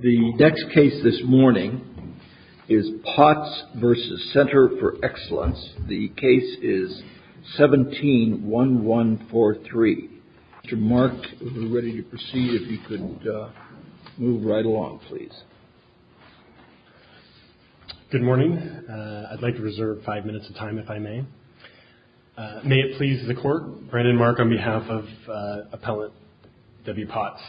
The next case this morning is Potts v. Center for Excellence. The case is 17-1143. Mr. Mark, if we're ready to proceed, if you could move right along, please. Good morning. I'd like to reserve five minutes of time, if I may. May it please the Court, Brandon Mark, on behalf of Appellant W. Potts.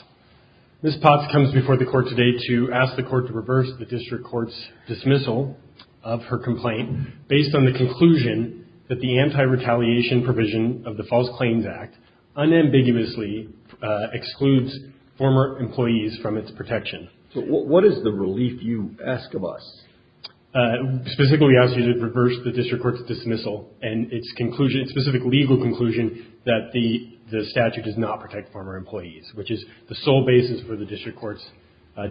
Ms. Potts comes before the Court today to ask the Court to reverse the District Court's dismissal of her complaint based on the conclusion that the anti-retaliation provision of the False Claims Act unambiguously excludes former employees from its protection. What is the relief you ask of us? Specifically, we ask you to reverse the District Court's dismissal and its specific legal conclusion that the statute does not protect former employees, which is the sole basis for the District Court's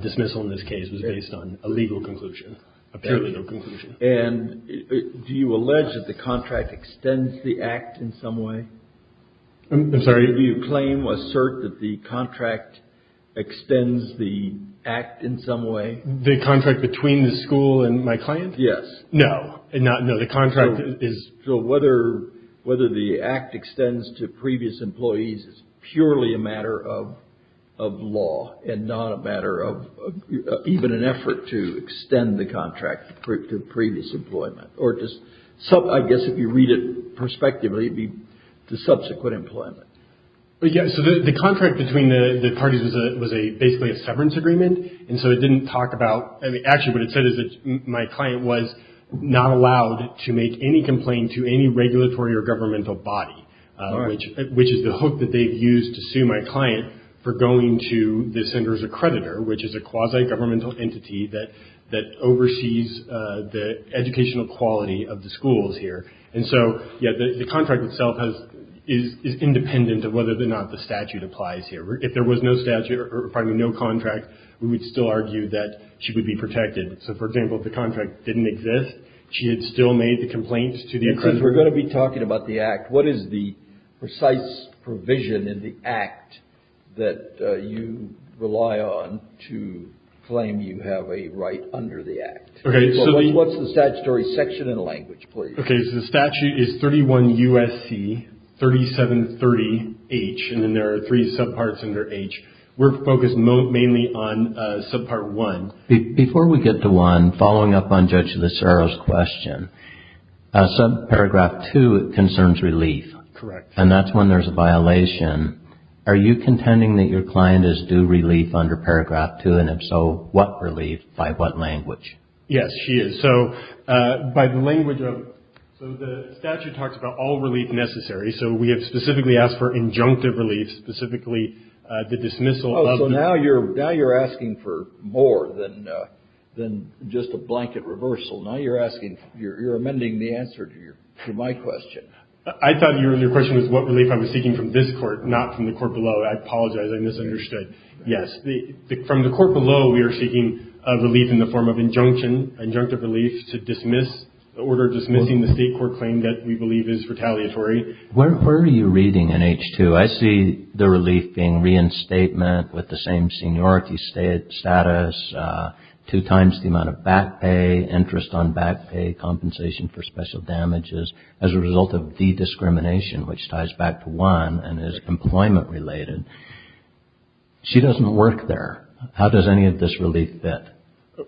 dismissal in this case was based on a legal conclusion, apparently no conclusion. And do you allege that the contract extends the Act in some way? I'm sorry? Do you claim, assert that the contract extends the Act in some way? The contract between the school and my client? Yes. No. No, the contract is... So whether the Act extends to previous employees is purely a matter of law and not a matter of even an effort to extend the contract to previous employment. I guess if you read it prospectively, it would be to subsequent employment. So the contract between the parties was basically a severance agreement, and so it didn't talk about... Actually, what it said is that my client was not allowed to make any complaint to any regulatory or governmental body, which is the hook that they've used to sue my client for going to the center's accreditor, which is a quasi-governmental entity that oversees the educational quality of the schools here. And so, yeah, the contract itself is independent of whether or not the statute applies here. If there was no statute or, pardon me, no contract, we would still argue that she would be protected. So, for example, if the contract didn't exist, she had still made the complaints to the accreditor. Since we're going to be talking about the Act, what is the precise provision in the Act that you rely on to claim you have a right under the Act? Okay, so the... What's the statutory section in the language, please? Okay, so the statute is 31 U.S.C. 3730H, and then there are three subparts under H. We're focused mainly on subpart 1. Before we get to 1, following up on Judge Lucero's question, subparagraph 2 concerns relief. Correct. And that's when there's a violation. Are you contending that your client is due relief under paragraph 2, and if so, what relief? By what language? Yes, she is. So by the language of... So the statute talks about all relief necessary, so we have specifically asked for injunctive relief, specifically the dismissal of... Oh, so now you're asking for more than just a blanket reversal. Now you're asking... You're amending the answer to my question. I thought your question was what relief I was seeking from this Court, not from the Court below. I apologize. I misunderstood. Yes. From the Court below, we are seeking relief in the form of injunction, injunctive relief to dismiss, in order of dismissing the State court claim that we believe is retaliatory. Where are you reading in H. 2? I see the relief being reinstatement with the same seniority status, two times the amount of back pay, interest on back pay, compensation for special damages as a result of the discrimination, which ties back to 1 and is employment-related. She doesn't work there. How does any of this relief fit?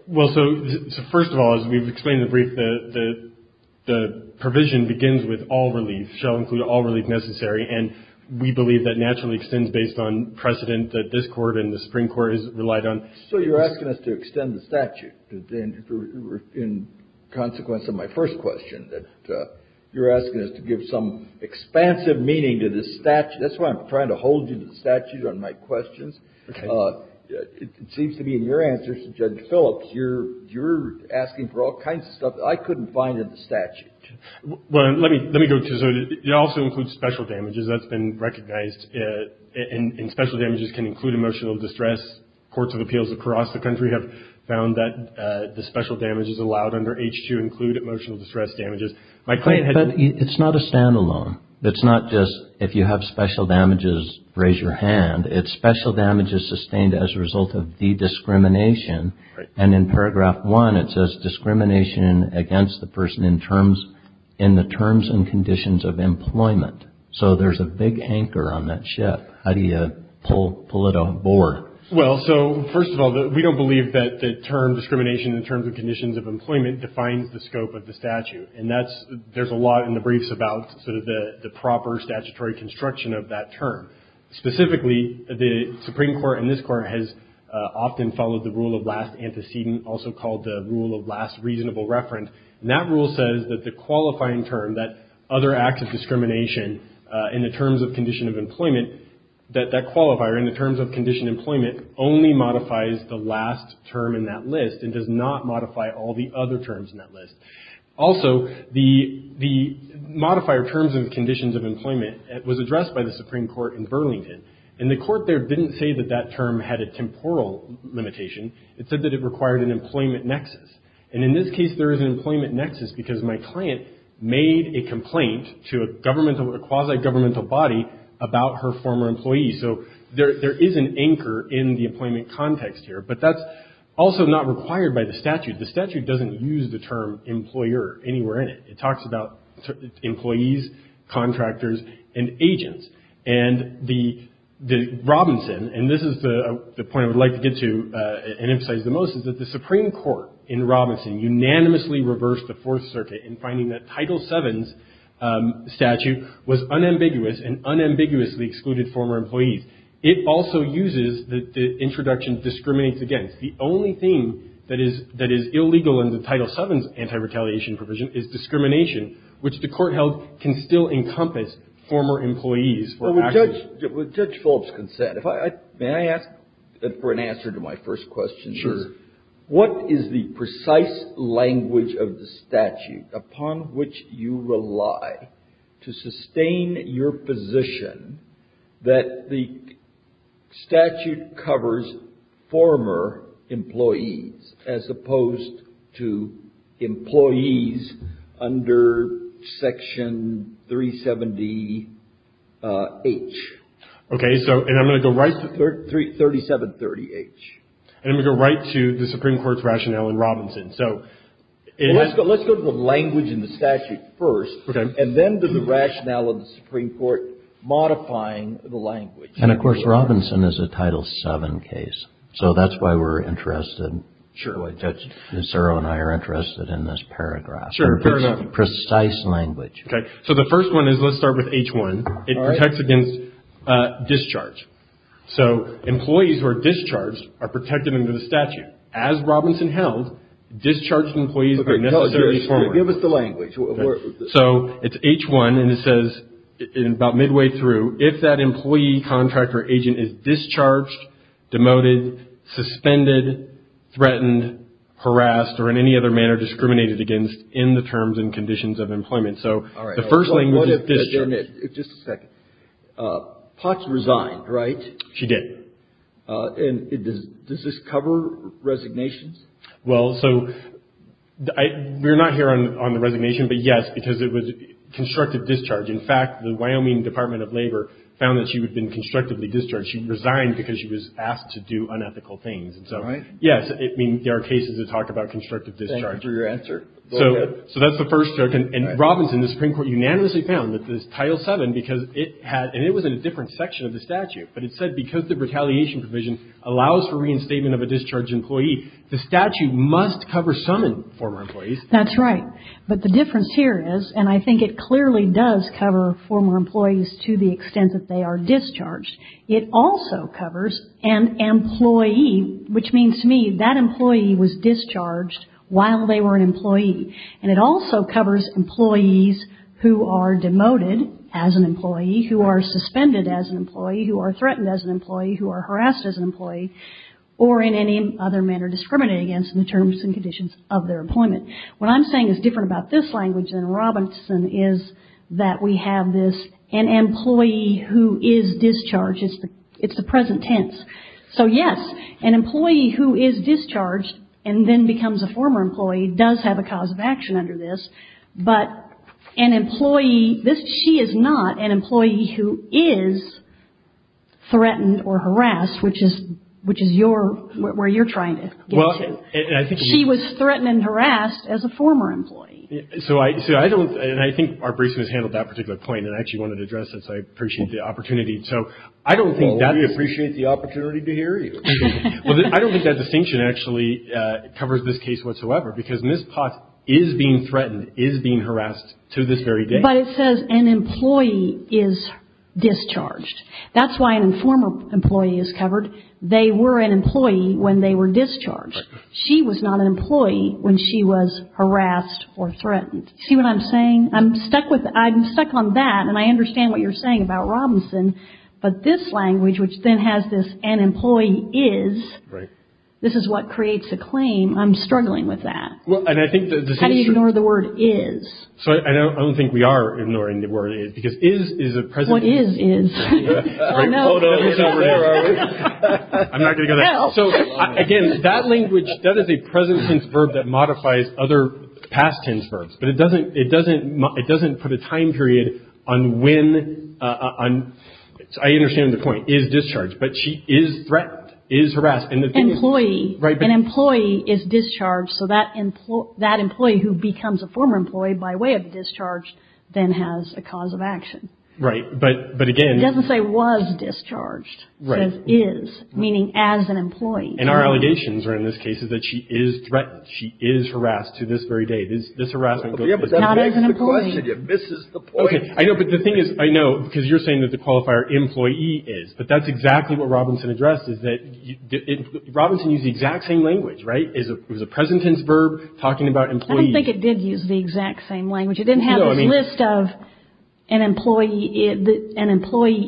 Well, so first of all, as we've explained in the brief, the provision begins with all relief, shall include all relief necessary, and we believe that naturally extends based on precedent that this Court and the Supreme Court has relied on. So you're asking us to extend the statute, in consequence of my first question, that you're asking us to give some expansive meaning to this statute. That's why I'm trying to hold you to the statute on my questions. Okay. It seems to me in your answers to Judge Phillips, you're asking for all kinds of stuff that I couldn't find in the statute. Well, let me go to it. It also includes special damages. That's been recognized. And special damages can include emotional distress. Courts of appeals across the country have found that the special damages allowed under H. 2 include emotional distress damages. But it's not a standalone. It's not just if you have special damages, raise your hand. It's special damages sustained as a result of the discrimination. And in paragraph 1, it says discrimination against the person in the terms and conditions of employment. So there's a big anchor on that ship. How do you pull it on board? Well, so first of all, we don't believe that the term discrimination in terms of conditions of employment defines the scope of the statute. And there's a lot in the briefs about sort of the proper statutory construction of that term. Specifically, the Supreme Court and this Court has often followed the rule of last antecedent, also called the rule of last reasonable reference. And that rule says that the qualifying term, that other acts of discrimination in the terms of condition of employment, that that qualifier in the terms of condition employment only modifies the last term in that list and does not modify all the other terms in that list. Also, the modifier terms and conditions of employment was addressed by the Supreme Court in Burlington. And the Court there didn't say that that term had a temporal limitation. It said that it required an employment nexus. And in this case, there is an employment nexus because my client made a complaint to a governmental or quasi-governmental body about her former employee. So there is an anchor in the employment context here. But that's also not required by the statute. The statute doesn't use the term employer anywhere in it. It talks about employees, contractors, and agents. And the Robinson, and this is the point I would like to get to and emphasize the most, is that the Supreme Court in Robinson unanimously reversed the Fourth Circuit in finding that Title VII's statute was unambiguous and unambiguously excluded former employees. It also uses the introduction discriminates against. The only thing that is illegal in the Title VII's anti-retaliation provision is discrimination, which the Court held can still encompass former employees for action. Roberts. With Judge Phillips' consent, may I ask for an answer to my first question? Sure. What is the precise language of the statute upon which you rely to sustain your position that the statute covers former employees as opposed to employees under Section 370-H? Okay. So, and I'm going to go right to 3730-H. And I'm going to go right to the Supreme Court's rationale in Robinson. So it is. Let's go to the language in the statute first. Okay. And then to the rationale of the Supreme Court modifying the language. And, of course, Robinson is a Title VII case. So that's why we're interested. Sure. Ms. Zero and I are interested in this paragraph. Sure. Precise language. Okay. So the first one is, let's start with H-1. All right. It protects against discharge. So employees who are discharged are protected under the statute. As Robinson held, discharged employees were necessarily former. Give us the language. So it's H-1, and it says about midway through, if that employee, contractor, agent is discharged, demoted, suspended, threatened, harassed, or in any other manner discriminated against in the terms and conditions of employment. So the first language is discharged. Just a second. Potts resigned, right? She did. And does this cover resignations? Well, so we're not here on the resignation, but, yes, because it was constructive discharge. In fact, the Wyoming Department of Labor found that she had been constructively discharged. She resigned because she was asked to do unethical things. All right. Yes. I mean, there are cases that talk about constructive discharge. Thank you for your answer. Go ahead. So that's the first joke. And Robinson, the Supreme Court unanimously found that this Title VII, because it had and it was in a different section of the statute, but it said because the retaliation provision allows for reinstatement of a discharged employee, the statute must cover some former employees. That's right. But the difference here is, and I think it clearly does cover former employees to the extent that they are discharged, it also covers an employee, which means to me that employee was discharged while they were an employee. And it also covers employees who are demoted as an employee, who are suspended as an employee, who are threatened as an employee, who are harassed as an employee, or in any other manner discriminated against in the terms and conditions of their employment. What I'm saying is different about this language than Robinson is that we have this an employee who is discharged. It's the present tense. So, yes, an employee who is discharged and then becomes a former employee does have a cause of action under this. But an employee, she is not an employee who is threatened or harassed, which is your, where you're trying to get to. She was threatened and harassed as a former employee. So I don't, and I think our briefing has handled that particular point, and I actually wanted to address it, so I appreciate the opportunity. So I don't think that's... Well, we appreciate the opportunity to hear you. Well, I don't think that distinction actually covers this case whatsoever, because Ms. Potts is being threatened, is being harassed to this very day. But it says an employee is discharged. That's why an informer employee is covered. They were an employee when they were discharged. She was not an employee when she was harassed or threatened. See what I'm saying? I'm stuck with, I'm stuck on that, and I understand what you're saying about Robinson, but this language, which then has this an employee is, this is what creates a claim, I'm struggling with that. How do you ignore the word is? I don't think we are ignoring the word is, because is is a present tense verb. What is is? I'm not going to go there. So again, that language, that is a present tense verb that modifies other past tense verbs, but it doesn't put a time period on when, I understand the point, is discharged, but she is threatened, is harassed. Employee. An employee is discharged, so that employee who becomes a former employee by way of discharged then has a cause of action. Right, but again. It doesn't say was discharged. It says is, meaning as an employee. And our allegations are in this case is that she is threatened, she is harassed to this very day. This harassment goes to this very day. Not as an employee. That begs the question. It misses the point. Okay, I know, but the thing is, I know, because you're saying that the qualifier employee is, but that's exactly what Robinson addressed, is that Robinson used the exact same language, right? It was a present tense verb talking about employees. I don't think it did use the exact same language. It didn't have this list of an employee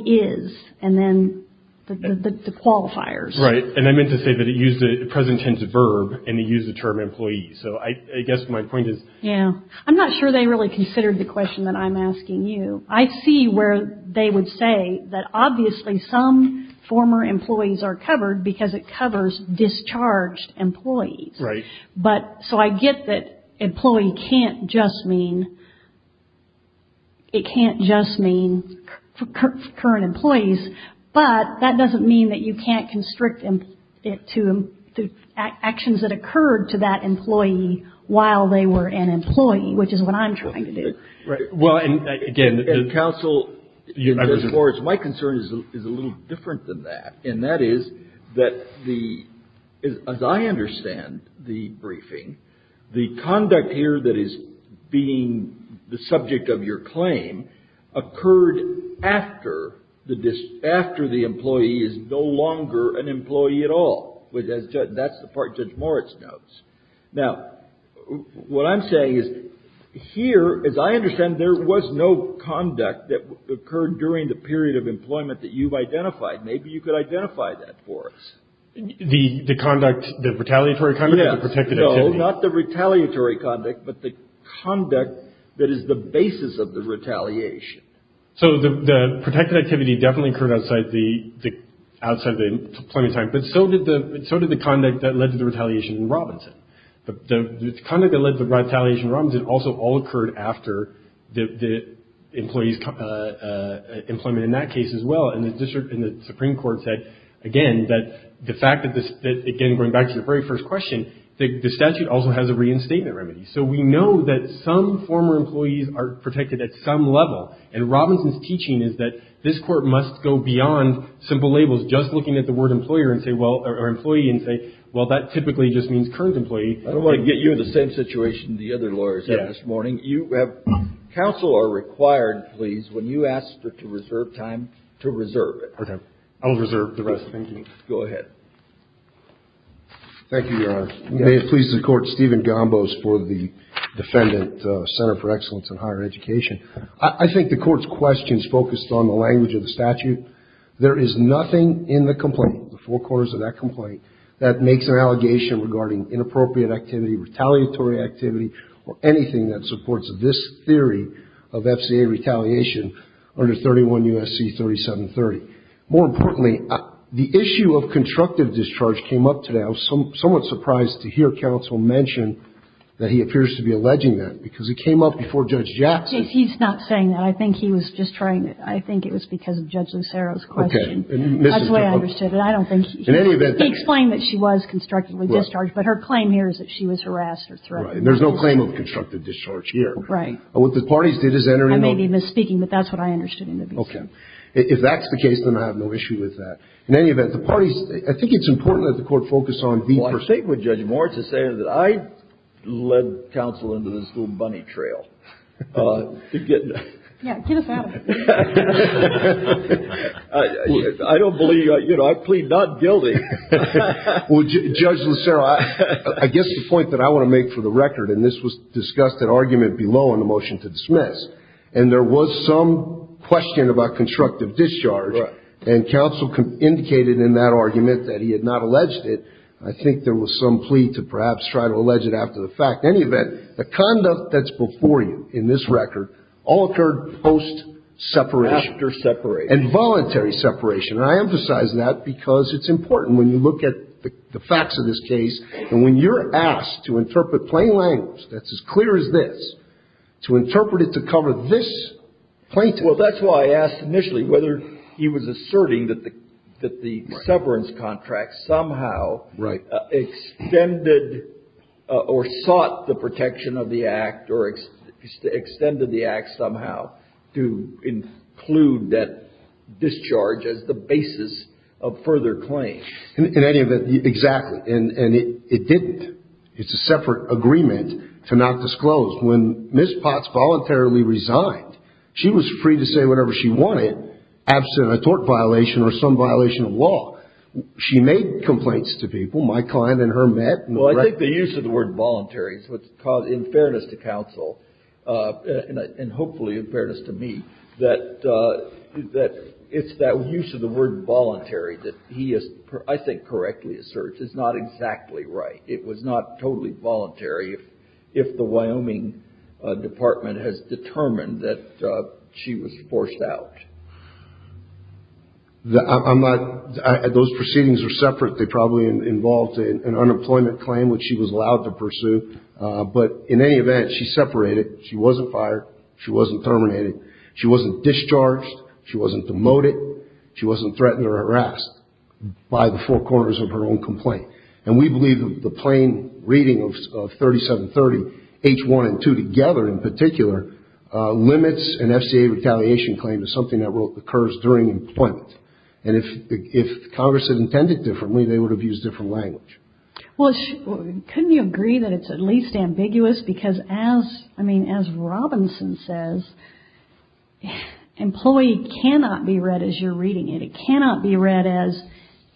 is, and then the qualifiers. Right, and I meant to say that it used a present tense verb, and it used the term employee. So I guess my point is. Yeah. I'm not sure they really considered the question that I'm asking you. I see where they would say that obviously some former employees are covered, because it covers discharged employees. Right. But, so I get that employee can't just mean, it can't just mean current employees, but that doesn't mean that you can't constrict it to actions that occurred to that employee while they were an employee, which is what I'm trying to do. Right. Well, and again. Counsel. Judge Moritz, my concern is a little different than that, and that is that the, as I understand the briefing, the conduct here that is being the subject of your claim occurred after the employee is no longer an employee at all. That's the part Judge Moritz notes. Now, what I'm saying is, here, as I understand, there was no conduct that occurred during the period of employment that you've identified. Maybe you could identify that for us. The conduct, the retaliatory conduct? Yes. Or the protected activity? No, not the retaliatory conduct, but the conduct that is the basis of the retaliation. So the protected activity definitely occurred outside the employment time, but so did the conduct that led to retaliation. Robinson also all occurred after the employee's employment in that case as well, and the district and the Supreme Court said, again, that the fact that this, again, going back to the very first question, the statute also has a reinstatement remedy. So we know that some former employees are protected at some level, and Robinson's teaching is that this court must go beyond simple labels, just looking at the word employer and say well, that typically just means current employee. I don't want to get you in the same situation the other lawyers had this morning. Counsel are required, please, when you ask to reserve time, to reserve it. Okay. I will reserve the rest. Thank you. Go ahead. Thank you, Your Honor. May it please the Court, Stephen Gombos for the defendant, Center for Excellence in Higher Education. I think the Court's question is focused on the language of the statute. There is nothing in the complaint, the four quarters of that complaint, that makes an allegation regarding inappropriate activity, retaliatory activity, or anything that supports this theory of FCA retaliation under 31 U.S.C. 3730. More importantly, the issue of constructive discharge came up today. I was somewhat surprised to hear counsel mention that he appears to be alleging that, because it came up before Judge Jackson. He's not saying that. I think he was just trying to. I think it was because of Judge Lucero's question. Okay. That's the way I understood it. I don't think he. In any event. He explained that she was constructively discharged, but her claim here is that she was harassed or threatened. Right. There's no claim of constructive discharge here. Right. What the parties did is enter into. I may be misspeaking, but that's what I understood in the case. Okay. If that's the case, then I have no issue with that. In any event, the parties, I think it's important that the Court focus on the person. Well, I think what Judge Moritz is saying is that I led counsel into this little bunny trail. Yeah. Get us out of here. I don't believe you. I plead not guilty. Well, Judge Lucero, I guess the point that I want to make for the record, and this was discussed at argument below in the motion to dismiss, and there was some question about constructive discharge. Right. And counsel indicated in that argument that he had not alleged it. I think there was some plea to perhaps try to allege it after the fact. Well, that's why I asked initially whether he was asserting that the severance contract somehow extended or sought the protection of the act or extended the act somehow and clued that discharge as the basis of further claim. In any event, exactly. And it didn't. It's a separate agreement to not disclose. When Ms. Potts voluntarily resigned, she was free to say whatever she wanted, absent a tort violation or some violation of law. She made complaints to people. My client and her met. Well, I think the use of the word voluntary is what's in fairness to counsel, and hopefully in fairness to me, that it's that use of the word voluntary that he has, I think, correctly asserts is not exactly right. It was not totally voluntary if the Wyoming Department has determined that she was forced out. I'm not – those proceedings are separate. They probably involved an unemployment claim, which she was allowed to pursue. But in any event, she separated. She wasn't fired. She wasn't terminated. She wasn't discharged. She wasn't demoted. She wasn't threatened or harassed by the four corners of her own complaint. And we believe the plain reading of 3730H1 and 2 together in particular limits an FCA retaliation claim to something that occurs during employment. And if Congress had intended differently, they would have used different language. Well, couldn't you agree that it's at least ambiguous? Because as – I mean, as Robinson says, employee cannot be read as you're reading it. It cannot be read as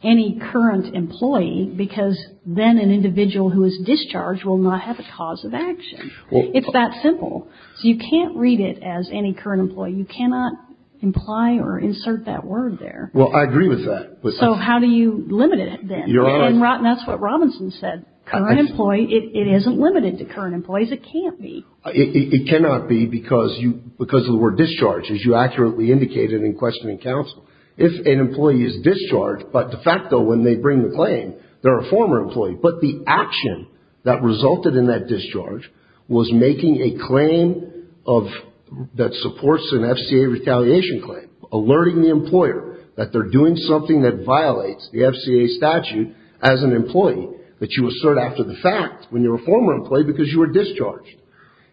any current employee because then an individual who is discharged will not have a cause of action. It's that simple. So you can't read it as any current employee. You cannot imply or insert that word there. Well, I agree with that. So how do you limit it then? You're right. And that's what Robinson said. Current employee – it isn't limited to current employees. It can't be. It cannot be because you – because of the word discharge, as you accurately indicated in questioning counsel. If an employee is discharged, but de facto when they bring the claim, they're a former employee, but the action that resulted in that discharge was making a claim of – that supports an FCA retaliation claim, alerting the employer that they're doing something that violates the FCA statute as an employee that you assert after the fact when you're a former employee because you were discharged.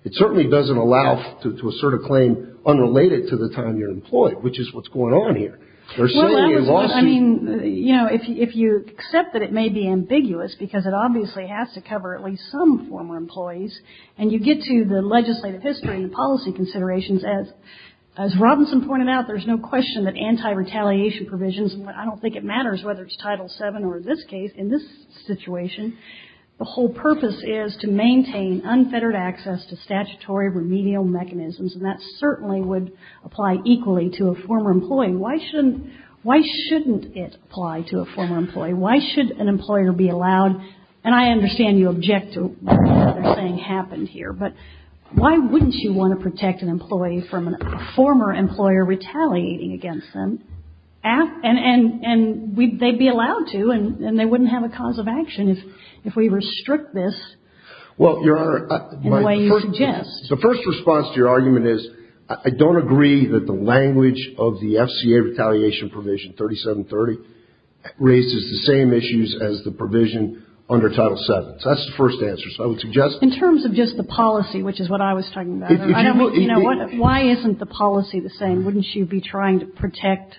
It certainly doesn't allow to assert a claim unrelated to the time you're employed, which is what's going on here. There's certainly a lawsuit. Well, I mean, you know, if you accept that it may be ambiguous because it obviously has to cover at least some former employees, and you get to the legislative history and policy considerations, as Robinson pointed out, there's no question that anti-retaliation provisions – I don't think it matters whether it's Title VII or this case. In this situation, the whole purpose is to maintain unfettered access to statutory remedial mechanisms, and that certainly would apply equally to a former employee. Why shouldn't – why shouldn't it apply to a former employee? Why should an employer be allowed – and I understand you object to what they're saying happened here, but why wouldn't you want to protect an employee from a former employer retaliating against them? And they'd be allowed to, and they wouldn't have a cause of action if we restrict this in the way you suggest. Well, Your Honor, my first – the first response to your argument is I don't agree that the language of the FCA retaliation provision 3730 raises the same issues as the provision under Title VII. So that's the first answer. So I would suggest – In terms of just the policy, which is what I was talking about, I don't mean – you know, why isn't the policy the same? Wouldn't you be trying to protect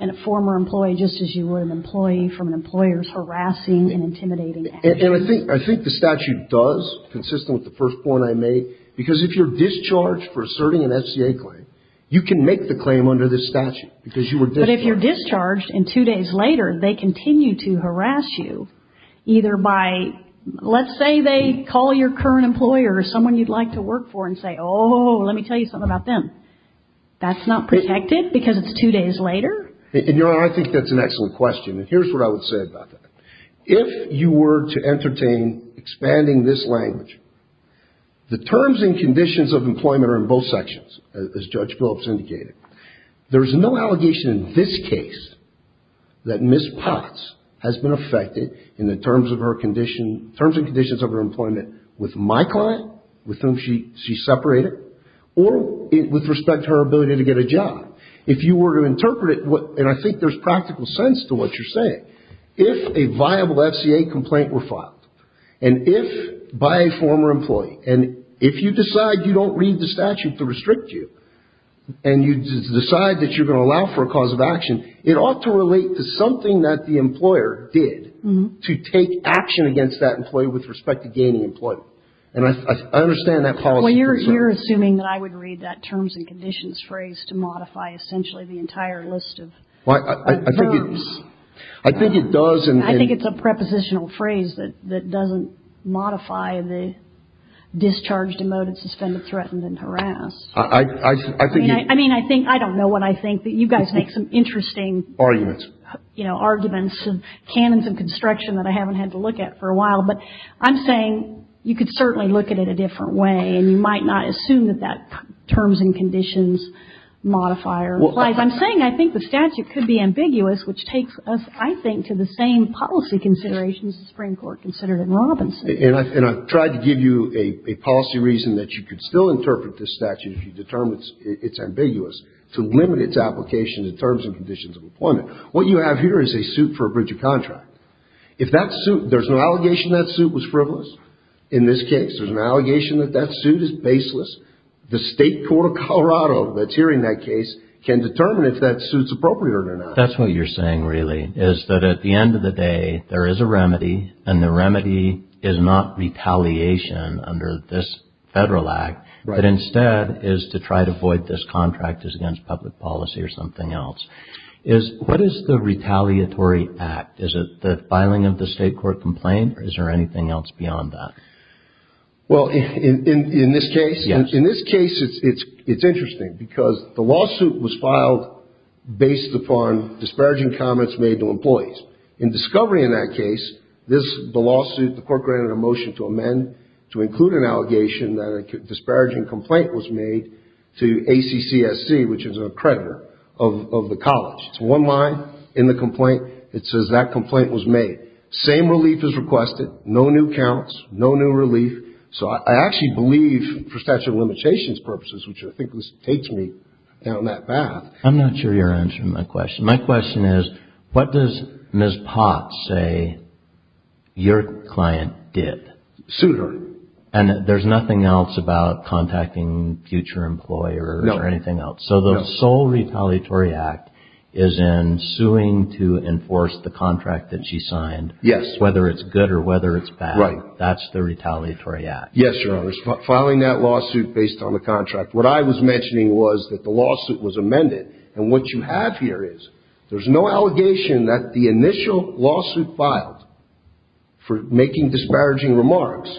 a former employee just as you would an employee from an employer's harassing and intimidating actions? And I think – I think the statute does, consistent with the first point I made, because if you're discharged for asserting an FCA claim, you can make the claim under this statute because you were discharged. But if you're discharged and two days later they continue to harass you, either by – let's say they call your current employer or someone you'd like to work for and say, oh, let me tell you something about them, that's not protected because it's two days later? And, Your Honor, I think that's an excellent question. And here's what I would say about that. If you were to entertain expanding this language, the terms and conditions of employment are in both sections, as Judge Phillips indicated. There is no allegation in this case that Ms. Potts has been affected in the terms of her employment with my client, with whom she separated, or with respect to her ability to get a job. If you were to interpret it, and I think there's practical sense to what you're saying, if a viable FCA complaint were filed, and if by a former employee, and if you decide you don't read the statute to restrict you, and you decide that you're going to allow for a cause of action, it ought to relate to something that the employer did to take action against that employee with respect to gaining employment. And I understand that policy. Well, you're assuming that I would read that terms and conditions phrase to modify essentially the entire list of verbs. I think it does. I think it's a prepositional phrase that doesn't modify the discharge, demote, suspend, threaten, and harass. I mean, I think, I don't know what I think. You guys make some interesting arguments, you know, arguments, canons of construction that I haven't had to look at for a while. But I'm saying you could certainly look at it a different way, and you might not assume that that terms and conditions modifier applies. I'm saying I think the statute could be ambiguous, which takes us, I think, to the same policy considerations the Supreme Court considered in Robinson. And I've tried to give you a policy reason that you could still interpret this statute if you determine it's ambiguous to limit its application in terms and conditions of employment. What you have here is a suit for a breach of contract. If that suit, there's no allegation that suit was frivolous. In this case, there's an allegation that that suit is baseless. The state court of Colorado that's hearing that case can determine if that suit's appropriate or not. That's what you're saying, really, is that at the end of the day, there is a remedy, and the remedy is not retaliation under this federal act, but instead is to try to avoid this contract as against public policy or something else. What is the retaliatory act? Is it the filing of the state court complaint, or is there anything else beyond that? Well, in this case, it's interesting, because the lawsuit was filed based upon disparaging comments made to employees. In discovery in that case, this, the lawsuit, the court granted a motion to amend to include an allegation that a disparaging complaint was made to ACCSC, which is a creditor of the college. It's one line in the complaint that says that complaint was made. Same relief is requested. No new counts. No new relief. So I actually believe, for statute of limitations purposes, which I think takes me down that path. I'm not sure you're answering my question. My question is, what does Ms. Potts say your client did? Sued her. And there's nothing else about contacting future employers or anything else? No. So the sole retaliatory act is in suing to enforce the contract that she signed. Yes. Whether it's good or whether it's bad. Right. That's the retaliatory act. Yes, Your Honor. Filing that lawsuit based on the contract. What I was mentioning was that the lawsuit was amended, and what you have here is, there's no allegation that the initial lawsuit filed for making disparaging remarks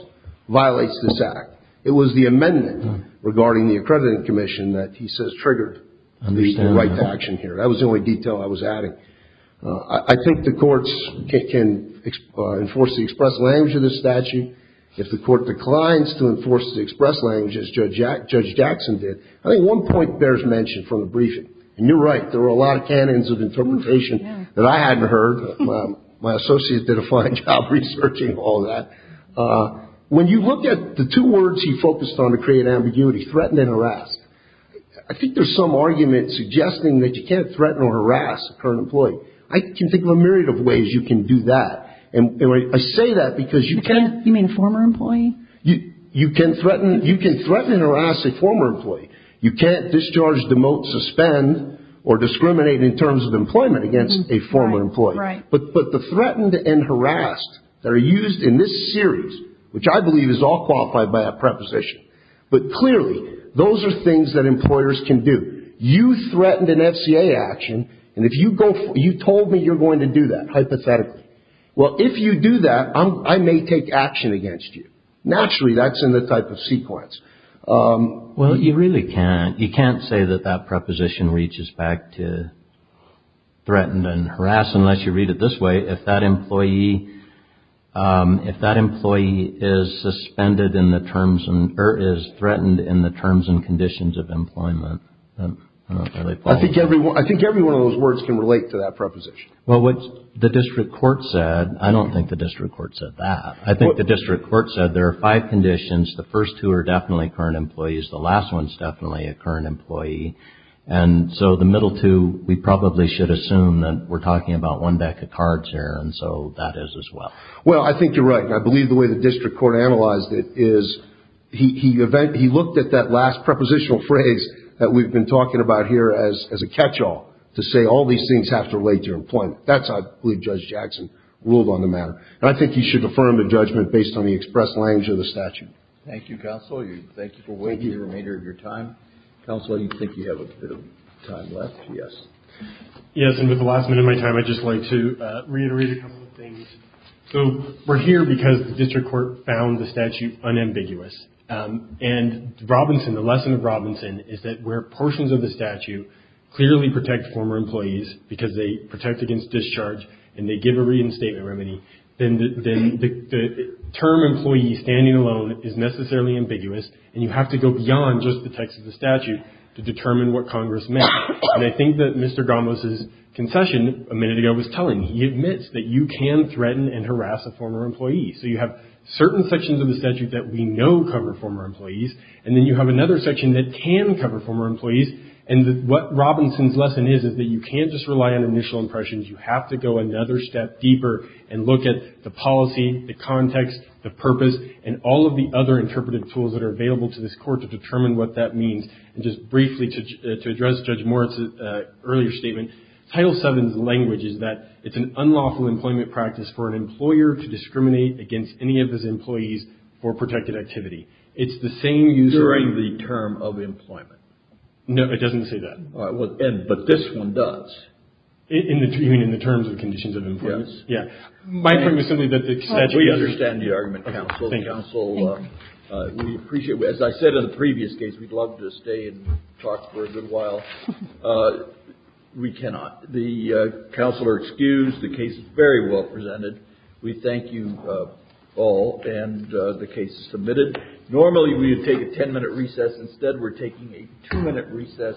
violates this act. It was the amendment regarding the accrediting commission that he says triggered the right to action here. That was the only detail I was adding. I think the courts can enforce the express language of this statute. If the court declines to enforce the express language as Judge Jackson did, I think one point bears mention from the briefing. And you're right. There were a lot of canons of interpretation that I hadn't heard. My associate did a fine job researching all that. When you look at the two words he focused on to create ambiguity, threaten and harass, I think there's some argument suggesting that you can't threaten or harass a current employee. I can think of a myriad of ways you can do that. I say that because you can't... You mean former employee? You can threaten and harass a former employee. You can't discharge, demote, suspend, or discriminate in terms of employment against a former employee. Right. But the threatened and harassed that are used in this series, which I believe is all qualified by a preposition, but clearly those are things that employers can do. You threatened an FCA action, and you told me you're going to do that, hypothetically. Well, if you do that, I may take action against you. Naturally, that's in the type of sequence. Well, you really can't. You can't say that that preposition reaches back to threatened and harassed unless you read it this way. If that employee is suspended in the terms and... or is threatened in the terms and conditions of employment, then I don't think... I think every one of those words can relate to that preposition. Well, what the district court said, I don't think the district court said that. I think the district court said there are five conditions. The first two are definitely current employees. The last one is definitely a current employee. And so the middle two, we probably should assume that we're talking about one deck of cards here, and so that is as well. Well, I think you're right. I believe the way the district court analyzed it is he looked at that last prepositional phrase that we've been talking about here as a catch-all to say all these things have to relate to employment. That's how I believe Judge Jackson ruled on the matter. And I think he should affirm the judgment based on the expressed language of the statute. Thank you, Counsel. Thank you for waiting the remainder of your time. Counsel, I think you have a bit of time left. Yes. Yes, and with the last minute of my time, I'd just like to reiterate a couple of things. So we're here because the district court found the statute unambiguous. And the lesson of Robinson is that where portions of the statute clearly protect former employees because they protect against discharge and they give a reinstatement remedy, then the term employee standing alone is necessarily ambiguous, and you have to go beyond just the text of the statute to determine what Congress meant. And I think that Mr. Gombos' concession a minute ago was telling. He admits that you can threaten and harass a former employee. So you have certain sections of the statute that we know cover former employees, and then you have another section that can cover former employees. And what Robinson's lesson is is that you can't just rely on initial impressions. You have to go another step deeper and look at the policy, the context, the purpose, and all of the other interpretive tools that are available to this court to determine what that means. And just briefly to address Judge Moritz's earlier statement, Title VII's language is that it's an unlawful employment practice for an employer to discriminate against any of his employees for protected activity. It's the same use of the term of employment. No, it doesn't say that. All right. But this one does. You mean in the terms and conditions of employment? Yes. Yeah. My point was something that the statute does. We understand the argument, counsel. Counsel, we appreciate it. As I said in the previous case, we'd love to stay and talk for a good while. We cannot. The counsel are excused. The case is very well presented. We thank you all. And the case is submitted. Normally, we would take a ten-minute recess. Instead, we're taking a two-minute recess.